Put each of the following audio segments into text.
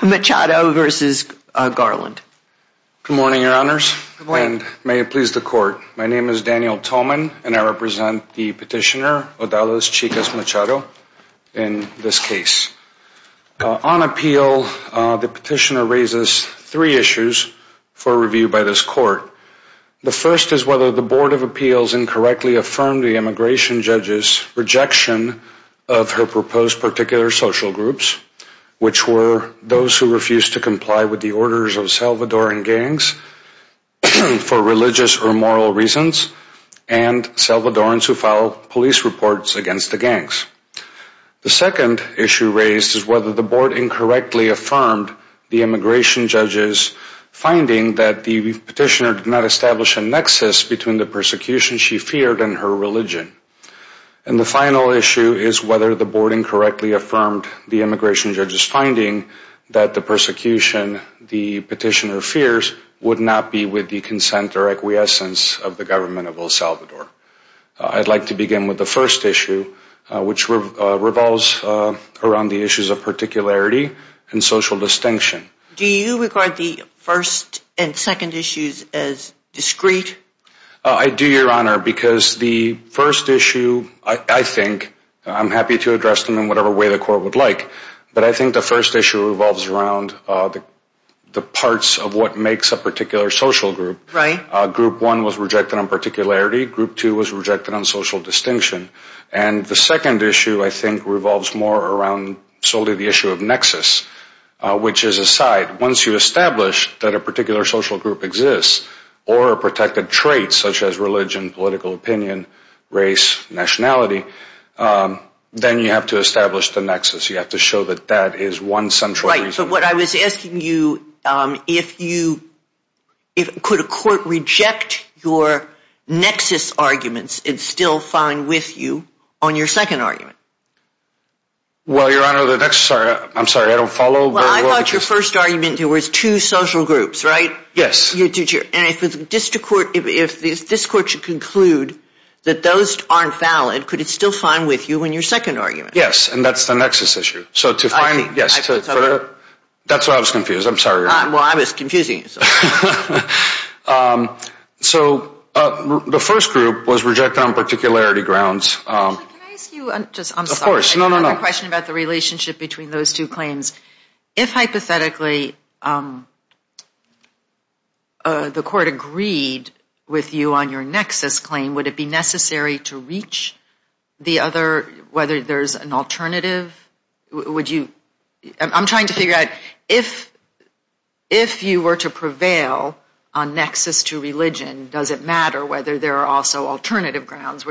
Good morning, your honors, and may it please the court. My name is Daniel Tolman, and I represent the petitioner, Odalis Chicas-Machado, in this case. On appeal, the petitioner raises three issues for review by this court. The first is whether the Board of Appeals incorrectly affirmed the immigration judge's rejection of her proposed particular social groups, which were those who refused to comply with the orders of Salvadoran gangs for religious or moral reasons, and Salvadorans who filed police reports against the gangs. The second issue raised is whether the board incorrectly affirmed the immigration judge's finding that the petitioner did not establish a nexus between the persecution she feared and her religion. And the final issue is whether the board incorrectly affirmed the immigration judge's finding that the persecution the petitioner fears would not be with the consent or acquiescence of the government of El Salvador. I'd like to begin with the first issue which revolves around the issues of particularity and social distinction. Do you regard the first and second issues as discrete? I do, your honor, because the court would like to address them in whatever way the court would like, but I think the first issue revolves around the parts of what makes a particular social group. Group one was rejected on particularity. Group two was rejected on social distinction. And the second issue, I think, revolves more around solely the issue of nexus, which is aside. Once you establish that a particular social group exists, or a protected trait such as religion, political opinion, race, nationality, then you have to establish the nexus. You have to show that that is one central reason. Right, but what I was asking you, if you, could a court reject your nexus arguments and still find with you on your second argument? Well, your honor, the nexus, I'm sorry, I don't follow. Well, I thought your first argument was two not valid, could it still find with you in your second argument? Yes, and that's the nexus issue. So to find, yes, that's why I was confused. I'm sorry, your honor. Well, I was confusing you. So the first group was rejected on particularity grounds. Actually, can I ask you, I'm sorry, another question about the relationship between those two claims. If the other, whether there's an alternative, would you, I'm trying to figure out, if you were to prevail on nexus to religion, does it matter whether there are also alternative grounds,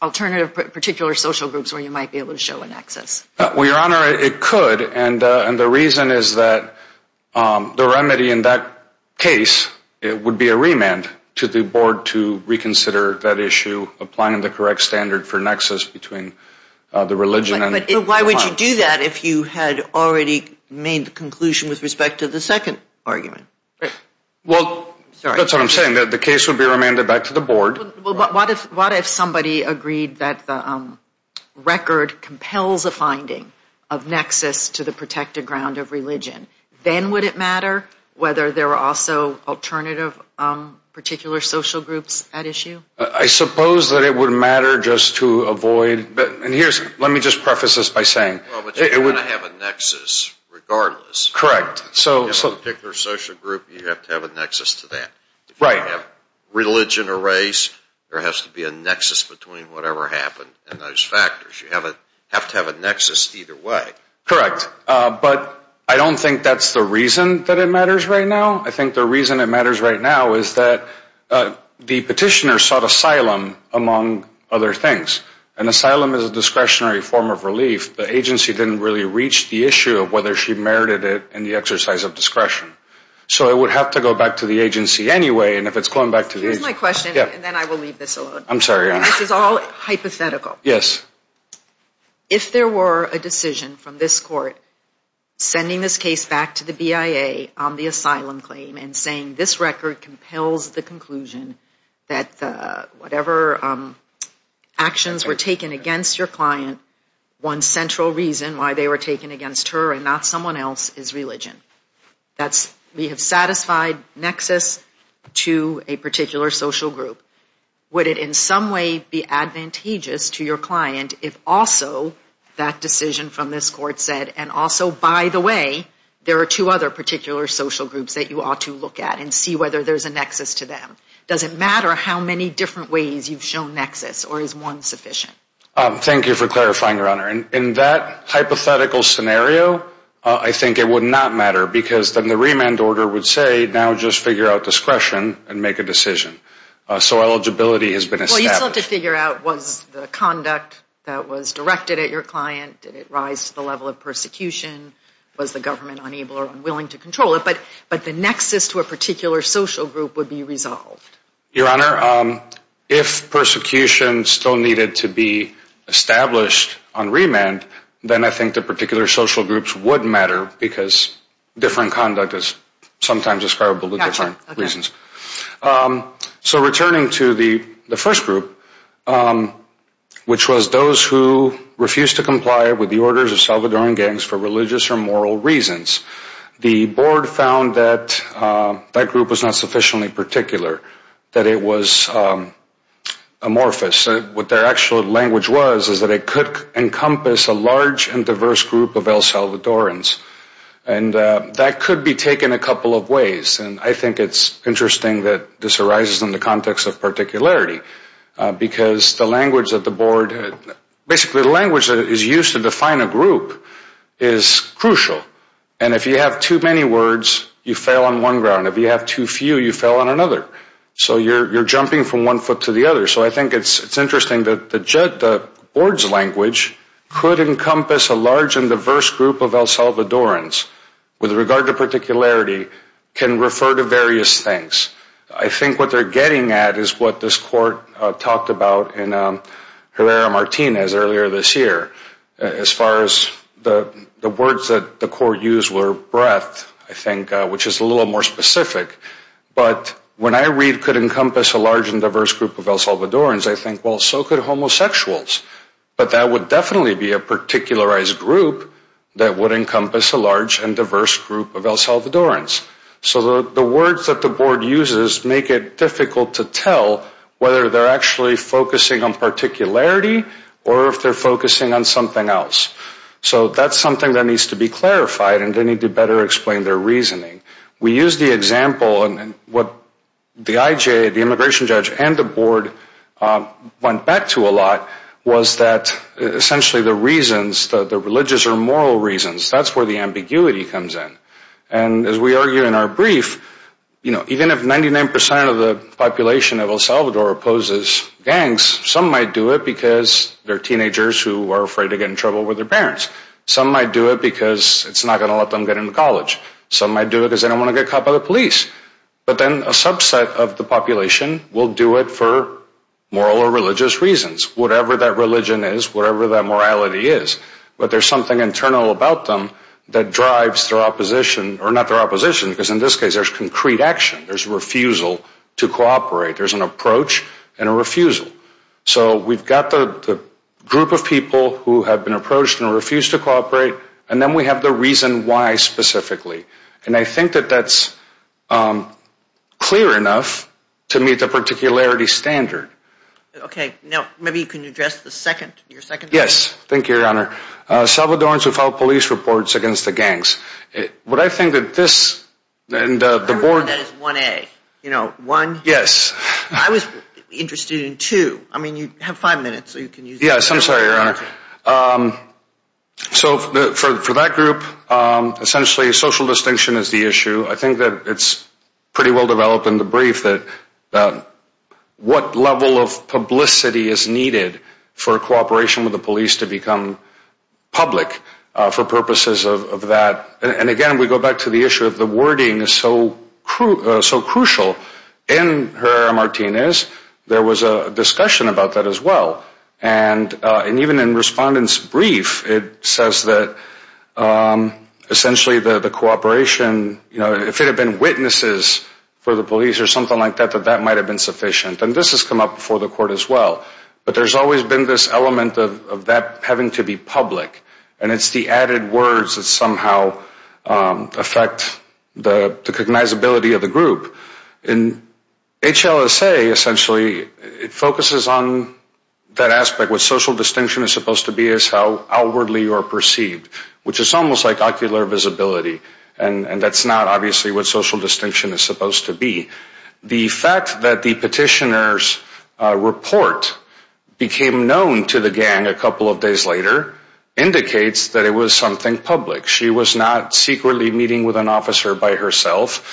alternative particular social groups where you might be able to show a nexus? Well, your honor, it could, and the reason is that the remedy in that case would be a direct standard for nexus between the religion and the file. But why would you do that if you had already made the conclusion with respect to the second argument? Well, that's what I'm saying. The case would be remanded back to the board. What if somebody agreed that the record compels a finding of nexus to the protected ground of religion? Then would it matter whether there were also alternative particular social groups at issue? I suppose that it would matter just to avoid, and here's, let me just preface this by saying. Well, but you're going to have a nexus regardless. Correct. In a particular social group, you have to have a nexus to that. Right. Religion or race, there has to be a nexus between whatever happened and those factors. You have to have a nexus either way. Correct. But I don't think that's the other things. An asylum is a discretionary form of relief. The agency didn't really reach the issue of whether she merited it in the exercise of discretion. So it would have to go back to the agency anyway, and if it's going back to the agency. Here's my question, and then I will leave this alone. I'm sorry, your honor. This is all hypothetical. Yes. If there were a decision from this court sending this case back to the BIA on the asylum claim and saying this record compels the conclusion that whatever actions were taken against your client, one central reason why they were taken against her and not someone else is religion. That's, we have satisfied nexus to a particular social group. Would it in some way be advantageous to your client if also that decision from this court said, and also, by the way, there are two other particular social groups that you ought to look at and see whether there's a nexus or is one sufficient? Thank you for clarifying, your honor. In that hypothetical scenario, I think it would not matter because then the remand order would say, now just figure out discretion and make a decision. So eligibility has been established. Well, you'd still have to figure out was the conduct that was directed at your client, did it rise to the level of persecution, was the government unable or unwilling to control it, but the nexus to a particular social group would be resolved. Your honor, if persecution still needed to be established on remand, then I think the particular social groups would matter because different conduct is sometimes describable with different reasons. So returning to the first group, which was those who refused to comply with the orders of Salvadoran gangs for religious or religious reasons, the board found that that group was not sufficiently particular, that it was amorphous. What their actual language was is that it could encompass a large and diverse group of El Salvadorans, and that could be taken a couple of ways, and I think it's interesting that this arises in the context of particularity because the language that the board, basically the language that is used to define a group is crucial. And if you have too many words, you fail on one ground. If you have too few, you fail on another. So you're jumping from one foot to the other. So I think it's interesting that the board's language could encompass a large and diverse group of El Salvadorans with regard to particularity can refer to various things. I think what they're getting at is what this court talked about in Herrera-Martinez earlier this year, as far as the words that the court used were breadth, I think, which is a little more specific. But when I read could encompass a large and diverse group of El Salvadorans, I think, well, so could homosexuals. But that would definitely be a particularized group that would encompass a large and diverse group of El Salvadorans. So the words that the board uses make it difficult to tell whether they're actually focusing on something else. So that's something that needs to be clarified and they need to better explain their reasoning. We used the example, what the IJ, the immigration judge, and the board went back to a lot was that essentially the reasons, the religious or moral reasons, that's where the ambiguity comes in. And as we argue in our brief, you know, even if 99 percent of the population of El Salvador opposes gangs, some might do it because they're afraid to get in trouble with their parents. Some might do it because it's not going to let them get into college. Some might do it because they don't want to get caught by the police. But then a subset of the population will do it for moral or religious reasons, whatever that religion is, whatever that morality is. But there's something internal about them that drives their opposition, or not their opposition, because in this case there's concrete action. There's refusal to cooperate. There's an approach and a refusal. So we've got the group of people who have been approached and refuse to cooperate, and then we have the reason why specifically. And I think that that's clear enough to meet the particularity standard. Okay, now maybe you can address the second, your second point. Yes, thank you, Your Honor. Salvadorans who file police reports against the gangs. What I think that this, and the board... I remember that as 1A. You know, one. Yes. I was interested in two. I mean, you have five minutes, so you can use that. Yes, I'm sorry, Your Honor. So for that group, essentially social distinction is the issue. I think that it's pretty well developed in the brief that what level of publicity is needed for cooperation with the police to become public for purposes of that. And again, we go back to the issue of the wording is so crucial in Herrera-Martinez. There was a discussion about that as well. And even in Respondent's brief, it says that essentially the sufficient. And this has come up before the court as well. But there's always been this element of that having to be public. And it's the added words that somehow affect the cognizability of the group. In HLSA, essentially, it focuses on that aspect. What social distinction is supposed to be is how outwardly people are perceived, which is almost like ocular visibility. And that's not obviously what social distinction is supposed to be. The fact that the petitioner's report became known to the gang a couple of days later indicates that it was something public. She was not secretly meeting with an officer by December 6th.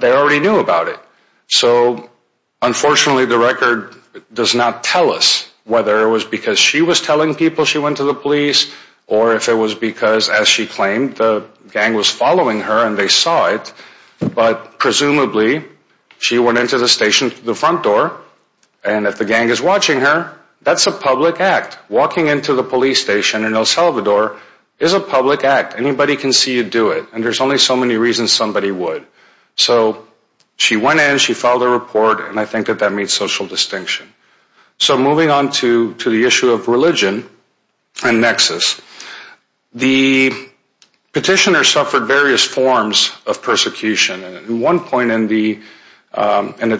They already knew about it. So unfortunately, the record does not tell us whether it was because she was telling people she went to the police or if it was because, as she claimed, the gang was following her and they saw it. But presumably, she went into the station through the front door. And if the gang is So moving on to the issue of religion and nexus, the petitioner suffered various forms of persecution. At one point in the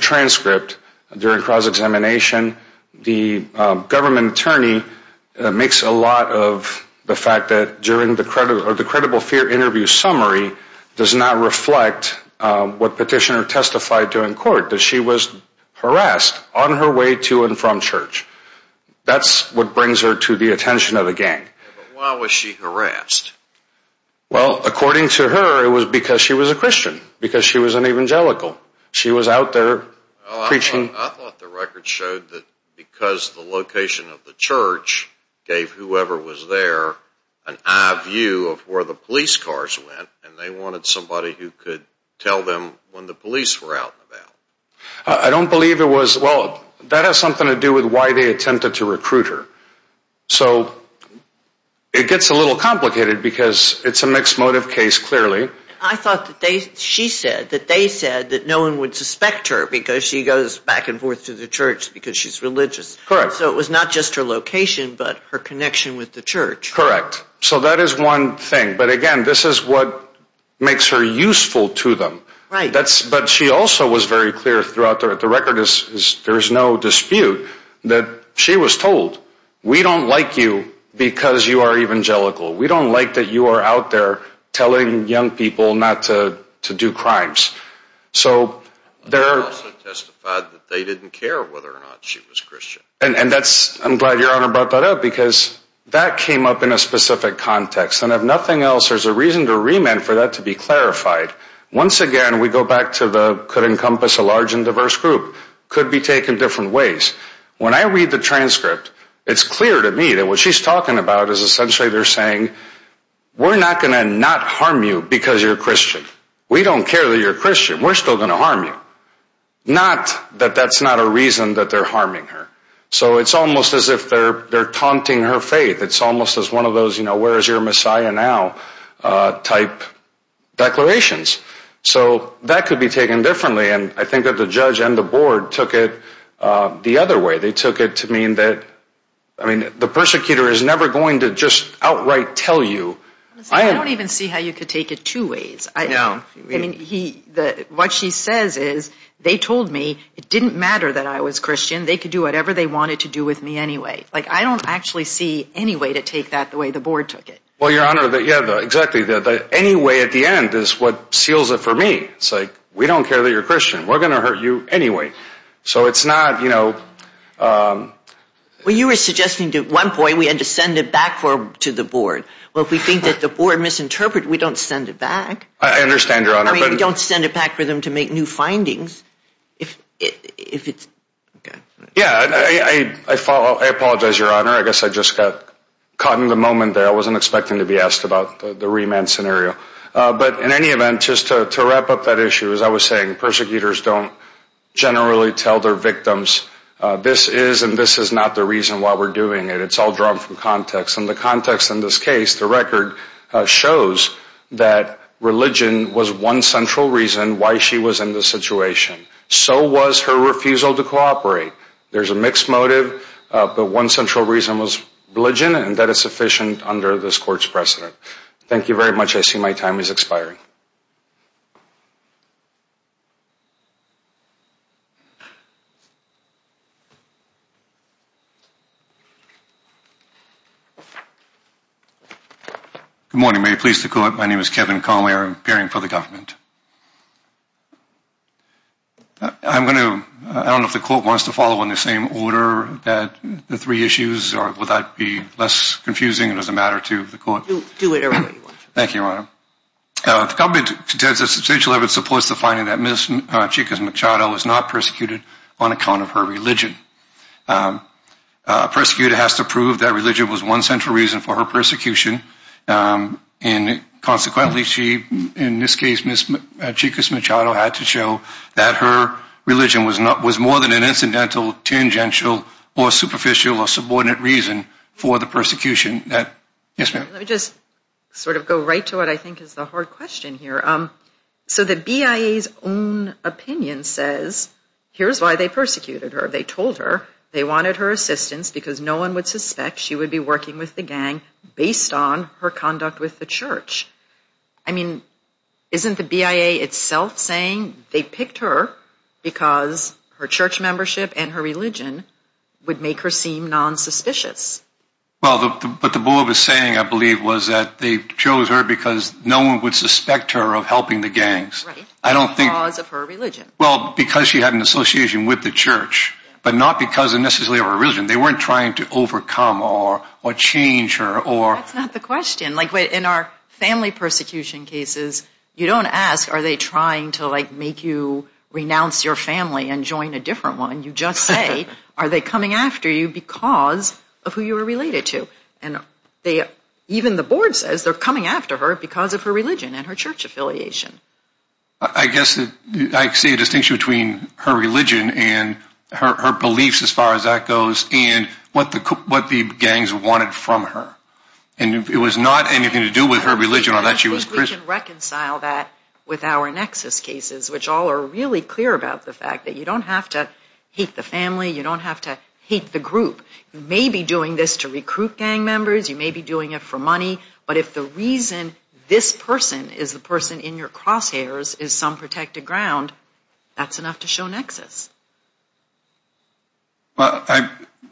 transcript during cross-examination, the does not reflect what petitioner testified to in court, that she was harassed on her way to and from church. That's what brings her to the attention of the gang. Why was she harassed? Well, according to her, it was because she was a Christian, because she was an evangelical. She was out there preaching. I thought the record showed that because the location of the church gave whoever was there an eye view of where the police cars went and they wanted somebody who could tell them when the police were out and about. I don't believe it was. Well, that has something to do with why they attempted to recruit her. So it gets a little complicated because it's a mixed motive case, clearly. I thought that she said that they said that no one would suspect her because she goes back and forth to the church because she's religious. So it was not just her location, but her connection with the church. Correct. So that is one thing. But again, this is what makes her useful to them. But she also was very clear throughout the record is there is no dispute that she was told, we don't like you because you are evangelical. We don't like that you are out there telling young people not to do crimes. They also testified that they didn't care whether or not she was Christian. I'm glad your Honor brought that up because that came up in a specific context. And if nothing else, there's a reason to remand for that to be clarified. Once again, we go back to the could encompass a large and diverse group could be taken different ways. When I read the transcript, it's clear to me that what she's talking about is essentially they're saying, we're not going to not harm you because you're Christian. We don't care that you're Christian. We're still going to harm you. Not that that's not a reason that they're harming her. So it's almost as if they're taunting her faith. It's almost as one of those, you know, where is your Messiah now type declarations. So that could be taken differently. And I think that the judge and the board took it the other way. They took it to mean that, I mean, the persecutor is never going to just outright tell you. I don't even see how you could take it two ways. I mean, what she says is they told me it didn't matter that I was Christian. They could do whatever they wanted to do with me anyway. Like, I don't actually see any way to take that the way the board took it. Well, Your Honor, yeah, exactly. The anyway at the end is what seals it for me. It's like, we don't care that you're Christian. We're going to hurt you anyway. So it's not, you know. Well, you were suggesting at one point we had to send it back to the board. Well, if we think that the board misinterpreted, we don't send it back. I understand, Your Honor. I mean, we don't send it back for them to make new findings. Yeah, I apologize, Your Honor. I guess I just got caught in the moment there. I wasn't expecting to be asked about the remand scenario. But in any event, just to wrap up that issue, as I was saying, persecutors don't generally tell their victims this is and this is not the reason why we're doing it. It's all drawn from context. And the context in this case, the record, shows that religion was one central reason why she was in this situation. So was her refusal to cooperate. There's a mixed motive, but one central reason was religion, and that is sufficient under this Court's precedent. Thank you very much. I see my time is expiring. Good morning. May it please the Court? My name is Kevin Conway. I'm appearing for the government. I'm going to, I don't know if the Court wants to follow in the same order that the three issues, or would that be less confusing? It doesn't matter to the Court. Do whatever you want. Thank you, Your Honor. The government contends that substantial evidence supports the finding that Ms. Chicas Machado was not persecuted on account of her religion. A persecutor has to prove that religion was one central reason for her persecution. And consequently, in this case, Ms. Chicas Machado had to show that her religion was more than an incidental, tangential, or superficial or subordinate reason for the persecution. Yes, ma'am? Let me just sort of go right to what I think is the hard question here. So the BIA's own opinion says, here's why they persecuted her. They told her they wanted her assistance because no one would suspect she would be working with the gang based on her conduct with the church. I mean, isn't the BIA itself saying they picked her because her church membership and her religion would make her seem nonsuspicious? Well, what the board was saying, I believe, was that they chose her because no one would suspect her of helping the gangs. Right. Because of her religion. Well, because she had an association with the church, but not because necessarily of her religion. They weren't trying to overcome or change her or... That's not the question. Like, in our family persecution cases, you don't ask, are they trying to, like, make you renounce your family and join a different one? You just say, are they coming after you because of who you are related to? And even the board says they're coming after her because of her religion and her church affiliation. I guess I see a distinction between her religion and her beliefs, as far as that goes, and what the gangs wanted from her. And it was not anything to do with her religion or that she was Christian. We can reconcile that with our Nexus cases, which all are really clear about the fact that you don't have to hate the family, you don't have to hate the group. You may be doing this to recruit gang members, you may be doing it for money, but if the reason this person is the person in your crosshairs is some protected ground, that's enough to show Nexus.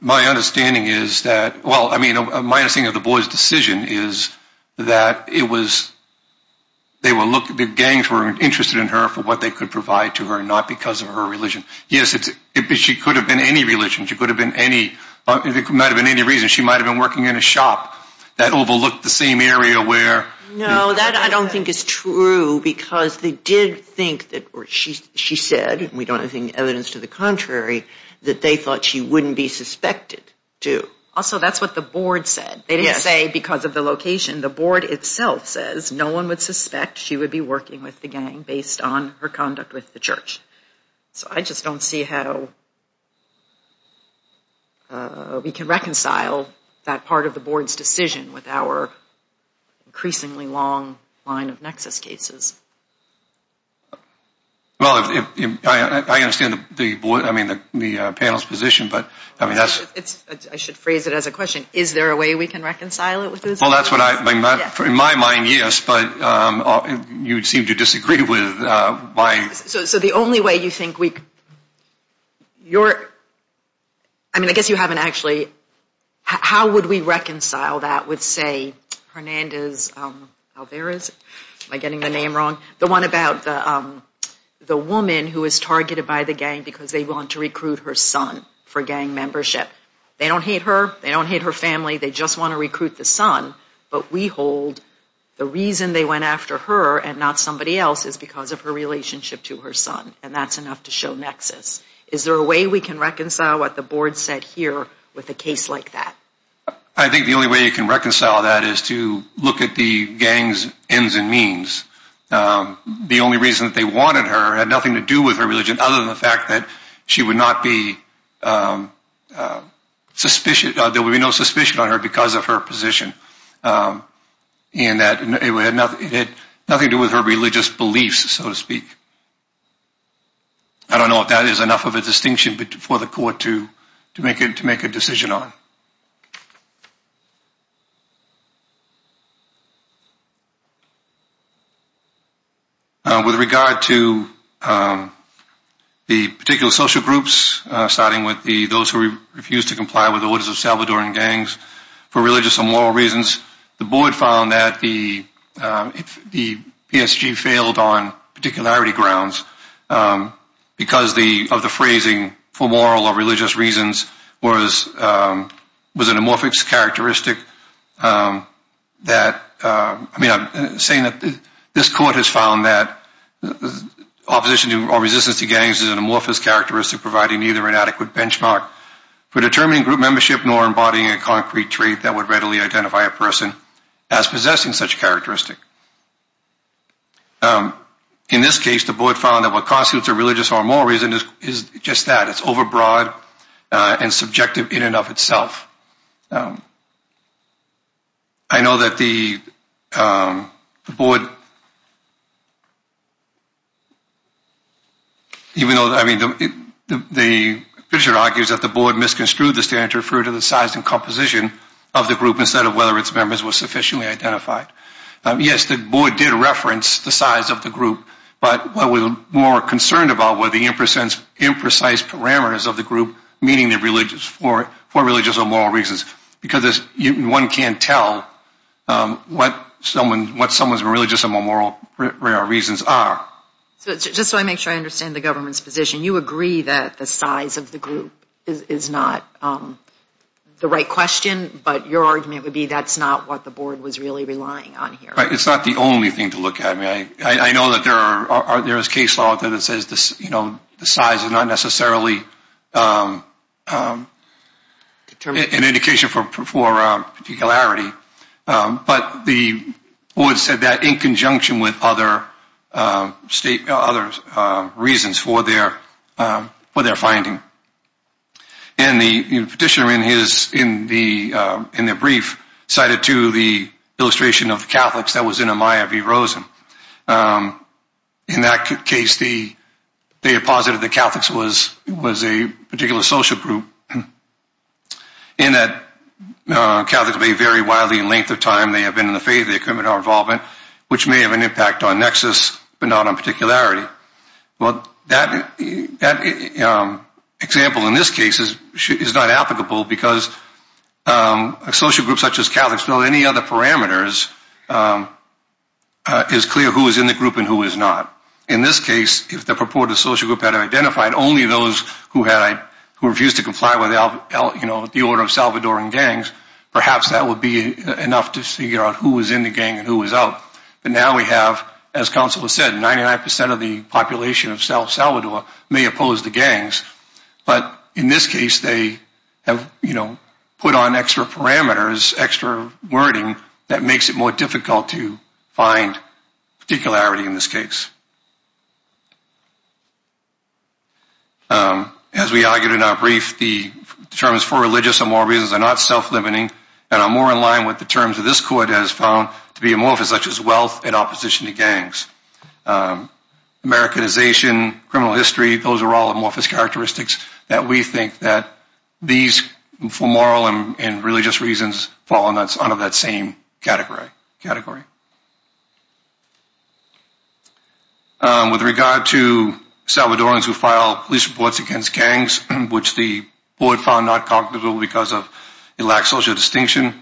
My understanding is that, well, I mean, my understanding of the boy's decision is that it was, they were looking, the gangs were interested in her for what they could provide to her, not because of her religion. Yes, she could have been any religion, she could have been any, it might have been any reason. She might have been working in a shop that overlooked the same area where... No, that I don't think is true, because they did think that, or she said, we don't have any evidence to the contrary, that they thought she wouldn't be suspected to. Also, that's what the board said. They didn't say because of the location. The board itself says no one would suspect she would be working with the gang based on her conduct with the church. So I just don't see how we can reconcile that part of the board's decision with our increasingly long line of Nexus cases. Well, I understand the board, I mean, the panel's position, but... I should phrase it as a question. Is there a way we can reconcile it? Well, that's what I, in my mind, yes, but you seem to disagree with my... So the only way you think we... I mean, I guess you haven't actually... How would we reconcile that with, say, Hernandez Alvarez, am I getting the name wrong? The one about the woman who was targeted by the gang because they want to recruit her son for gang membership. They don't hate her, they don't hate her family, they just want to recruit the son. But we hold the reason they went after her and not somebody else is because of her relationship to her son. And that's enough to show Nexus. Is there a way we can reconcile what the board said here with a case like that? I think the only way you can reconcile that is to look at the gang's ends and means. The only reason that they wanted her had nothing to do with her religion, other than the fact that there would be no suspicion on her because of her position. And that it had nothing to do with her religious beliefs, so to speak. I don't know if that is enough of a distinction for the court to make a decision on. With regard to the particular social groups, starting with those who refused to comply with the orders of Salvadoran gangs, for religious and moral reasons, the board found that the PSG failed on particularity grounds because of the phrasing, for moral or religious reasons, was an amorphous characteristic. I'm saying that this court has found that opposition or resistance to gangs is an amorphous characteristic providing neither an adequate benchmark for determining group membership nor embodying a concrete trait that would readily identify a person as possessing such a characteristic. In this case, the board found that what constitutes a religious or moral reason is just that. It's overbroad and subjective in and of itself. I know that the board, even though, I mean, the judge argues that the board misconstrued the standard to refer to the size and composition of the group instead of whether its members were sufficiently identified. Yes, the board did reference the size of the group, but what we're more concerned about were the imprecise parameters of the group, meaning for religious or moral reasons, because one can't tell what someone's religious or moral reasons are. Just so I make sure I understand the government's position, you agree that the size of the group is not the right question, but your argument would be that's not what the board was really relying on here. It's not the only thing to look at. I know that there is case law that says the size is not necessarily an indication for particularity, but the board said that in conjunction with other reasons for their finding. And the petitioner in their brief cited, too, the illustration of Catholics that was in Amaya v. Rosen. In that case, they had posited that Catholics was a particular social group, and that Catholics may vary widely in length of time. They have been in the faith. They have criminal involvement, which may have an impact on nexus, but not on particularity. Well, that example in this case is not applicable because a social group such as Catholics, without any other parameters, is clear who is in the group and who is not. In this case, if the purported social group had identified only those who refused to comply with the order of Salvadoran gangs, perhaps that would be enough to figure out who was in the gang and who was out. But now we have, as counsel has said, 99% of the population of South Salvador may oppose the gangs. But in this case, they have, you know, put on extra parameters, extra wording that makes it more difficult to find particularity in this case. As we argued in our brief, the terms for religious and moral reasons are not self-limiting and are more in line with the terms that this court has found to be amorphous, such as wealth in opposition to gangs. Americanization, criminal history, those are all amorphous characteristics that we think that these, for moral and religious reasons, fall under that same category. With regard to Salvadorans who file police reports against gangs, which the board found not cognitive because it lacks social distinction,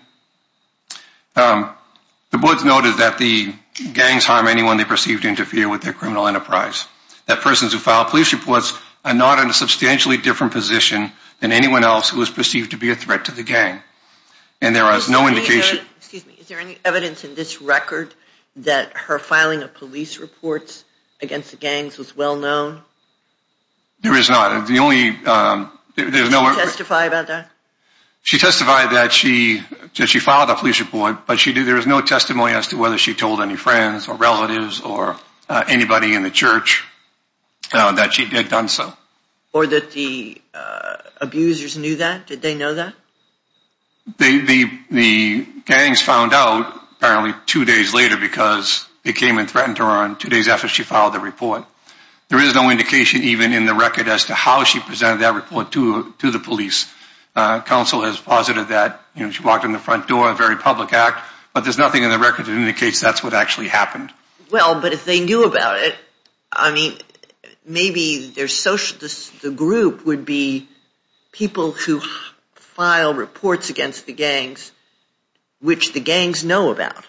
the board noted that the gangs harm anyone they perceive to interfere with their criminal enterprise, that persons who file police reports are not in a substantially different position than anyone else who is perceived to be a threat to the gang. And there is no indication... Excuse me, is there any evidence in this record that her filing of police reports against the gangs was well known? There is not. Did she testify about that? She testified that she filed a police report, but there is no testimony as to whether she told any friends or relatives or anybody in the church that she had done so. Or that the abusers knew that? Did they know that? The gangs found out apparently two days later because they came and threatened her, and two days after she filed the report. There is no indication even in the record as to how she presented that report to the police. Counsel has posited that she walked in the front door, a very public act, but there's nothing in the record that indicates that's what actually happened. Well, but if they knew about it, I mean, maybe the group would be people who file reports against the gangs, which the gangs know about.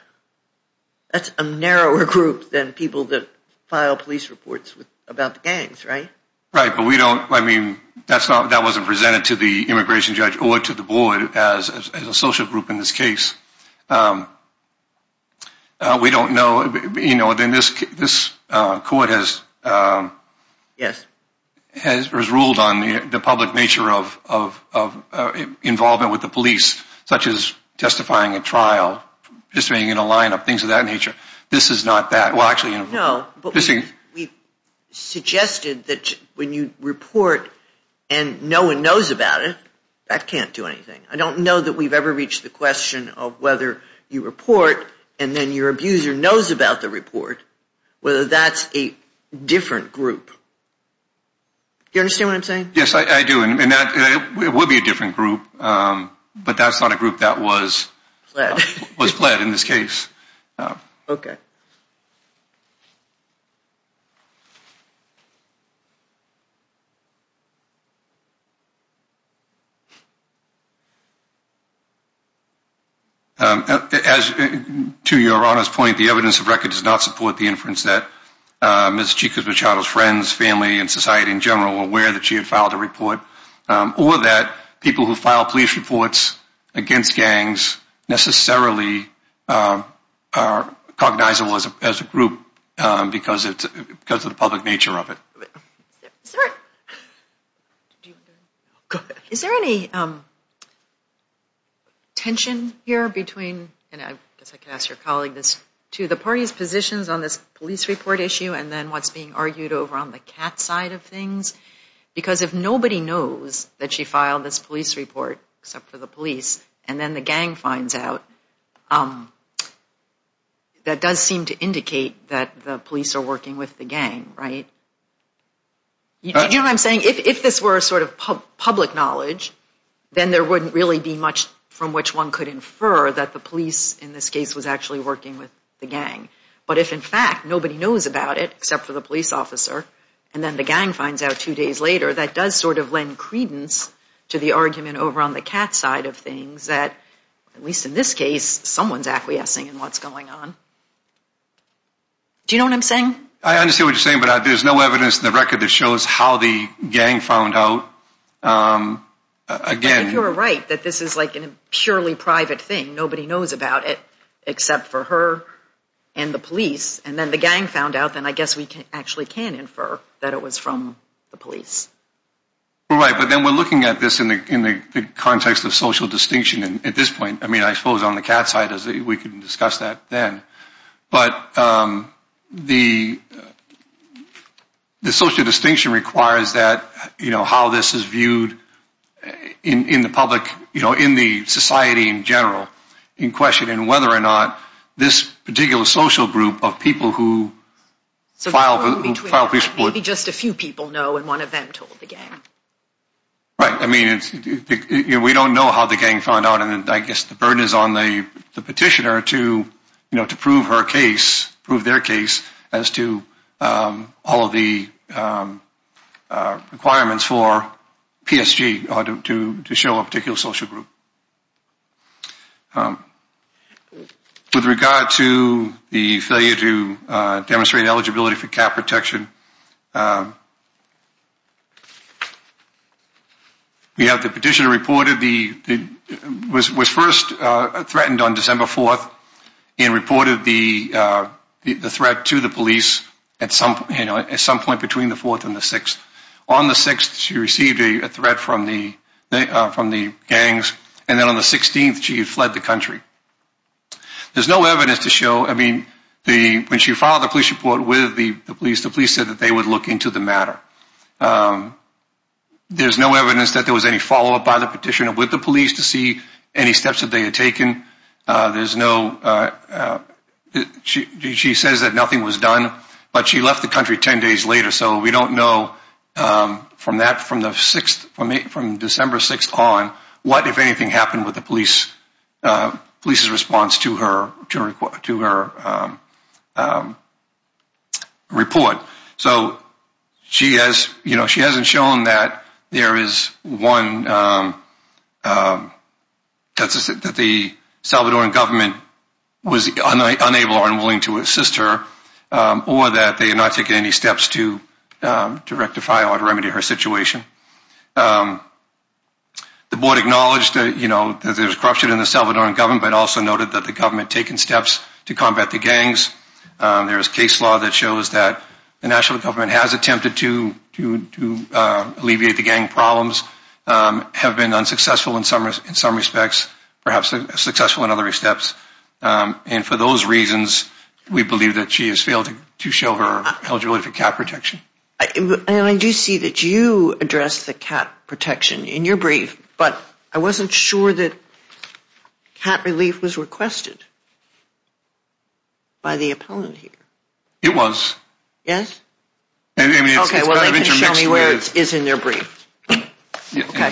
That's a narrower group than people that file police reports about the gangs, right? Right, but we don't, I mean, that wasn't presented to the immigration judge or to the board as a social group in this case. We don't know, you know, and this court has ruled on the public nature of involvement with the police, such as testifying at trial, participating in a line-up, things of that nature. This is not that. Well, actually, you know. No, but we suggested that when you report and no one knows about it, that can't do anything. I don't know that we've ever reached the question of whether you report and then your abuser knows about the report, whether that's a different group. Do you understand what I'm saying? Yes, I do, and it would be a different group, but that's not a group that was pled in this case. Okay. As to Your Honor's point, the evidence of record does not support the inference that Ms. Chico Machado's friends, family, and society in general were aware that she had filed a report, or that people who file police reports against gangs necessarily are cognizable as a group because of the public nature of it. Is there any tension here between, and I guess I could ask your colleague this too, the party's positions on this police report issue and then what's being argued over on the cat side of things? Because if nobody knows that she filed this police report except for the police, and then the gang finds out, that does seem to indicate that the police are working with the gang, right? Do you know what I'm saying? If this were a sort of public knowledge, then there wouldn't really be much from which one could infer that the police in this case was actually working with the gang. But if in fact nobody knows about it except for the police officer, and then the gang finds out two days later, that does sort of lend credence to the argument over on the cat side of things that, at least in this case, someone's acquiescing in what's going on. Do you know what I'm saying? I understand what you're saying, but there's no evidence in the record that shows how the gang found out. If you're right that this is like a purely private thing, nobody knows about it except for her and the police, and then the gang found out, then I guess we actually can infer that it was from the police. Right, but then we're looking at this in the context of social distinction at this point. I mean, I suppose on the cat side we can discuss that then. But the social distinction requires that how this is viewed in the public, in the society in general, in question and whether or not this particular social group of people who file police reports. Maybe just a few people know and one of them told the gang. Right. I mean, we don't know how the gang found out and I guess the burden is on the petitioner to prove her case, prove their case as to all of the requirements for PSG to show a particular social group. With regard to the failure to demonstrate eligibility for cat protection, we have the petitioner reported, was first threatened on December 4th and reported the threat to the police at some point between the 4th and the 6th. On the 6th she received a threat from the gangs and then on the 16th she fled the country. There's no evidence to show, I mean, when she filed the police report with the police, the police said that they would look into the matter. There's no evidence that there was any follow-up by the petitioner with the police to see any steps that they had taken. There's no, she says that nothing was done, but she left the country 10 days later. So we don't know from that, from the 6th, from December 6th on, what if anything happened with the police's response to her report. So she hasn't shown that there is one, that the Salvadoran government was unable or unwilling to assist her or that they had not taken any steps to rectify or remedy her situation. The board acknowledged that there was corruption in the Salvadoran government but also noted that the government had taken steps to combat the gangs. There is case law that shows that the national government has attempted to alleviate the gang problems, have been unsuccessful in some respects, perhaps successful in other steps. And for those reasons, we believe that she has failed to show her eligibility for cat protection. And I do see that you addressed the cat protection in your brief, but I wasn't sure that cat relief was requested by the appellant here. It was. Yes? I mean, it's kind of intermixed with... Okay, well, they can show me where it is in their brief. Okay.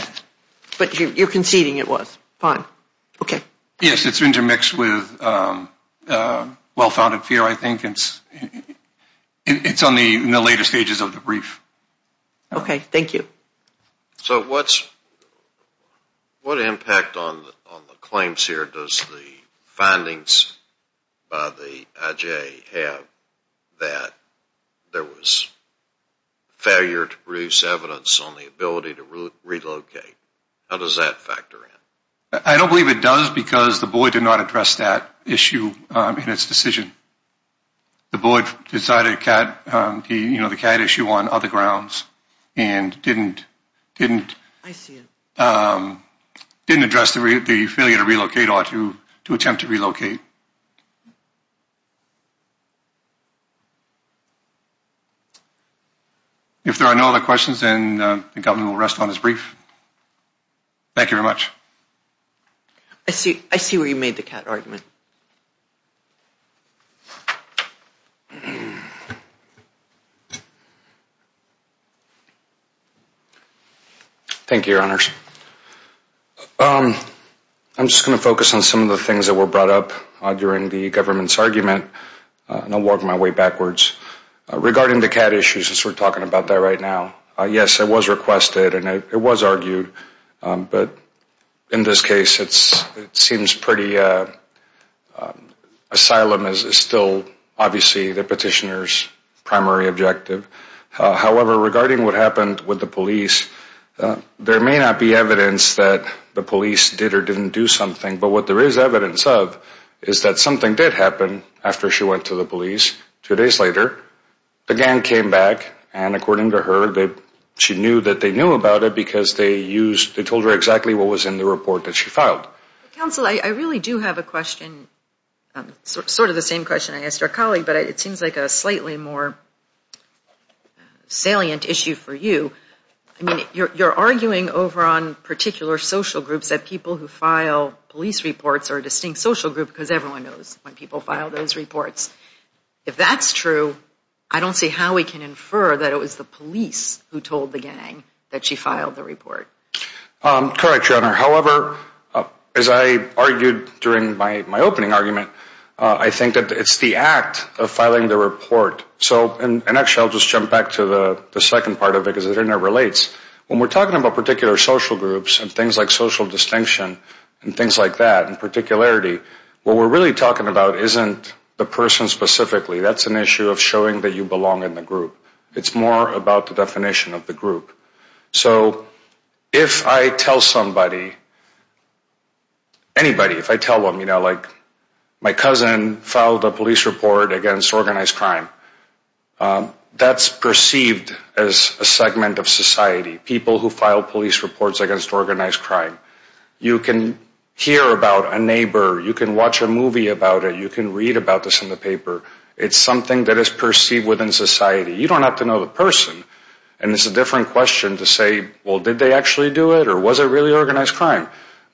But you're conceding it was. Fine. Okay. Yes, it's intermixed with well-founded fear, I think. It's in the later stages of the brief. Okay, thank you. So what impact on the claims here does the findings by the IJ have that there was failure to produce evidence on the ability to relocate? How does that factor in? I don't believe it does because the board did not address that issue in its decision. The board decided the cat issue on other grounds and didn't address the failure to relocate or to attempt to relocate. If there are no other questions, then the government will rest on its brief. Thank you very much. I see where you made the cat argument. Thank you, Your Honors. I'm just going to focus on some of the things that were brought up during the government's argument and I'll walk my way backwards. Regarding the cat issues, since we're talking about that right now, yes, it was requested and it was argued, but in this case it seems pretty asylum is still obviously the petitioner's primary objective. However, regarding what happened with the police, there may not be evidence that the police did or didn't do something, but what there is evidence of is that something did happen after she went to the police. Two days later, the gang came back and according to her, she knew that they knew about it because they told her exactly what was in the report that she filed. Counsel, I really do have a question, sort of the same question I asked our colleague, but it seems like a slightly more salient issue for you. You're arguing over on particular social groups that people who file police reports are a distinct social group because everyone knows when people file those reports. If that's true, I don't see how we can infer that it was the police who told the gang that she filed the report. Correct, Your Honor. However, as I argued during my opening argument, I think that it's the act of filing the report. So, and actually I'll just jump back to the second part of it because it interrelates. When we're talking about particular social groups and things like social distinction and things like that, in particularity, what we're really talking about isn't the person specifically. That's an issue of showing that you belong in the group. It's more about the definition of the group. So, if I tell somebody, anybody, if I tell them, you know, like, my cousin filed a police report against organized crime, that's perceived as a segment of society. People who file police reports against organized crime. You can hear about a neighbor. You can watch a movie about it. You can read about this in the paper. It's something that is perceived within society. You don't have to know the person. And it's a different question to say, well, did they actually do it or was it really organized crime?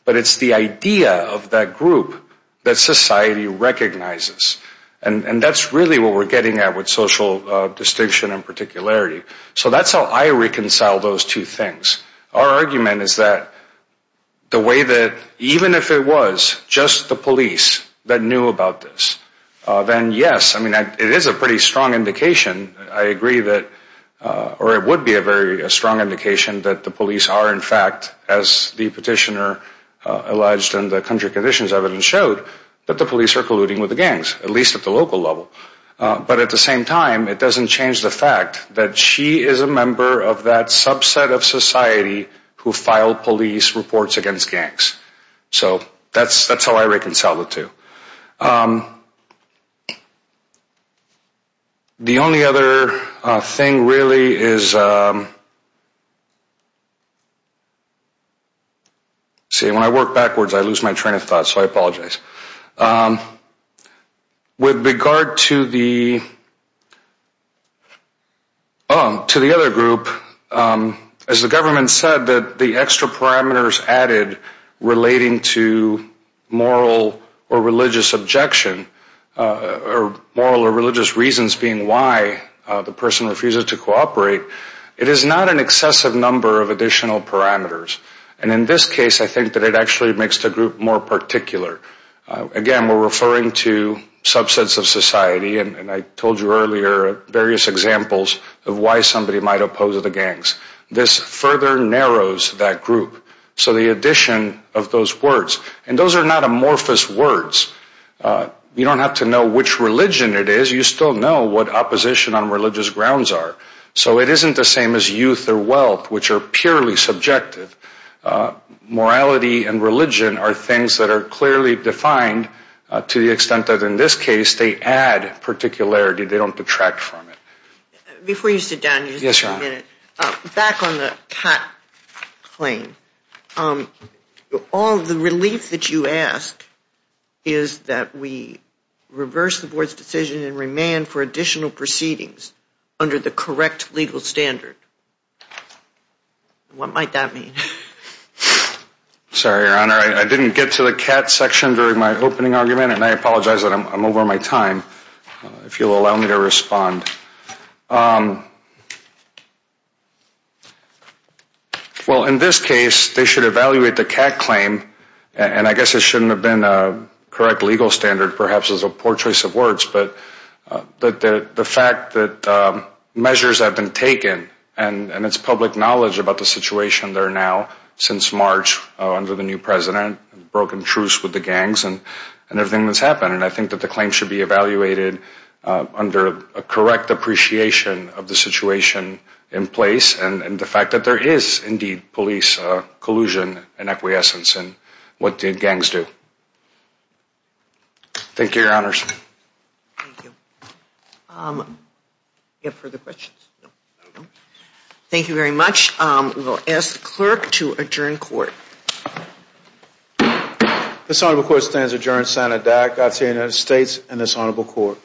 But it's the idea of that group that society recognizes. And that's really what we're getting at with social distinction and particularity. So, that's how I reconcile those two things. Our argument is that the way that even if it was just the police that knew about this, then, yes, I mean, it is a pretty strong indication. I agree that, or it would be a very strong indication that the police are, in fact, as the petitioner alleged in the country conditions evidence showed, that the police are colluding with the gangs, at least at the local level. But at the same time, it doesn't change the fact that she is a member of that subset of society who filed police reports against gangs. So, that's how I reconcile the two. The only other thing really is, see, when I work backwards, I lose my train of thought, so I apologize. With regard to the other group, as the government said, that the extra parameters added relating to moral or religious objection, or moral or religious reasons being why the person refuses to cooperate, it is not an excessive number of additional parameters. And in this case, I think that it actually makes the group more particular. Again, we're referring to subsets of society, and I told you earlier various examples of why somebody might oppose the gangs. This further narrows that group. So, the addition of those words, and those are not amorphous words. You don't have to know which religion it is. You still know what opposition on religious grounds are. So, it isn't the same as youth or wealth, which are purely subjective. Morality and religion are things that are clearly defined to the extent that, in this case, they add particularity. They don't detract from it. Before you sit down, just a minute. Yes, Your Honor. Back on the cat claim. All the relief that you ask is that we reverse the board's decision and remand for additional proceedings under the correct legal standard. What might that mean? Sorry, Your Honor. I didn't get to the cat section during my opening argument, and I apologize that I'm over my time, if you'll allow me to respond. Well, in this case, they should evaluate the cat claim, and I guess it shouldn't have been a correct legal standard, perhaps as a poor choice of words, but the fact that measures have been taken, and it's public knowledge about the situation there now since March under the new president, broken truce with the gangs and everything that's happened. And I think that the claim should be evaluated under a correct appreciation of the situation in place and the fact that there is indeed police collusion and acquiescence in what the gangs do. Thank you, Your Honors. Thank you. Do we have further questions? No. Thank you very much. We will ask the clerk to adjourn court. This Honorable Court stands adjourned. Senator Dac, Godspeed to the United States and this Honorable Court.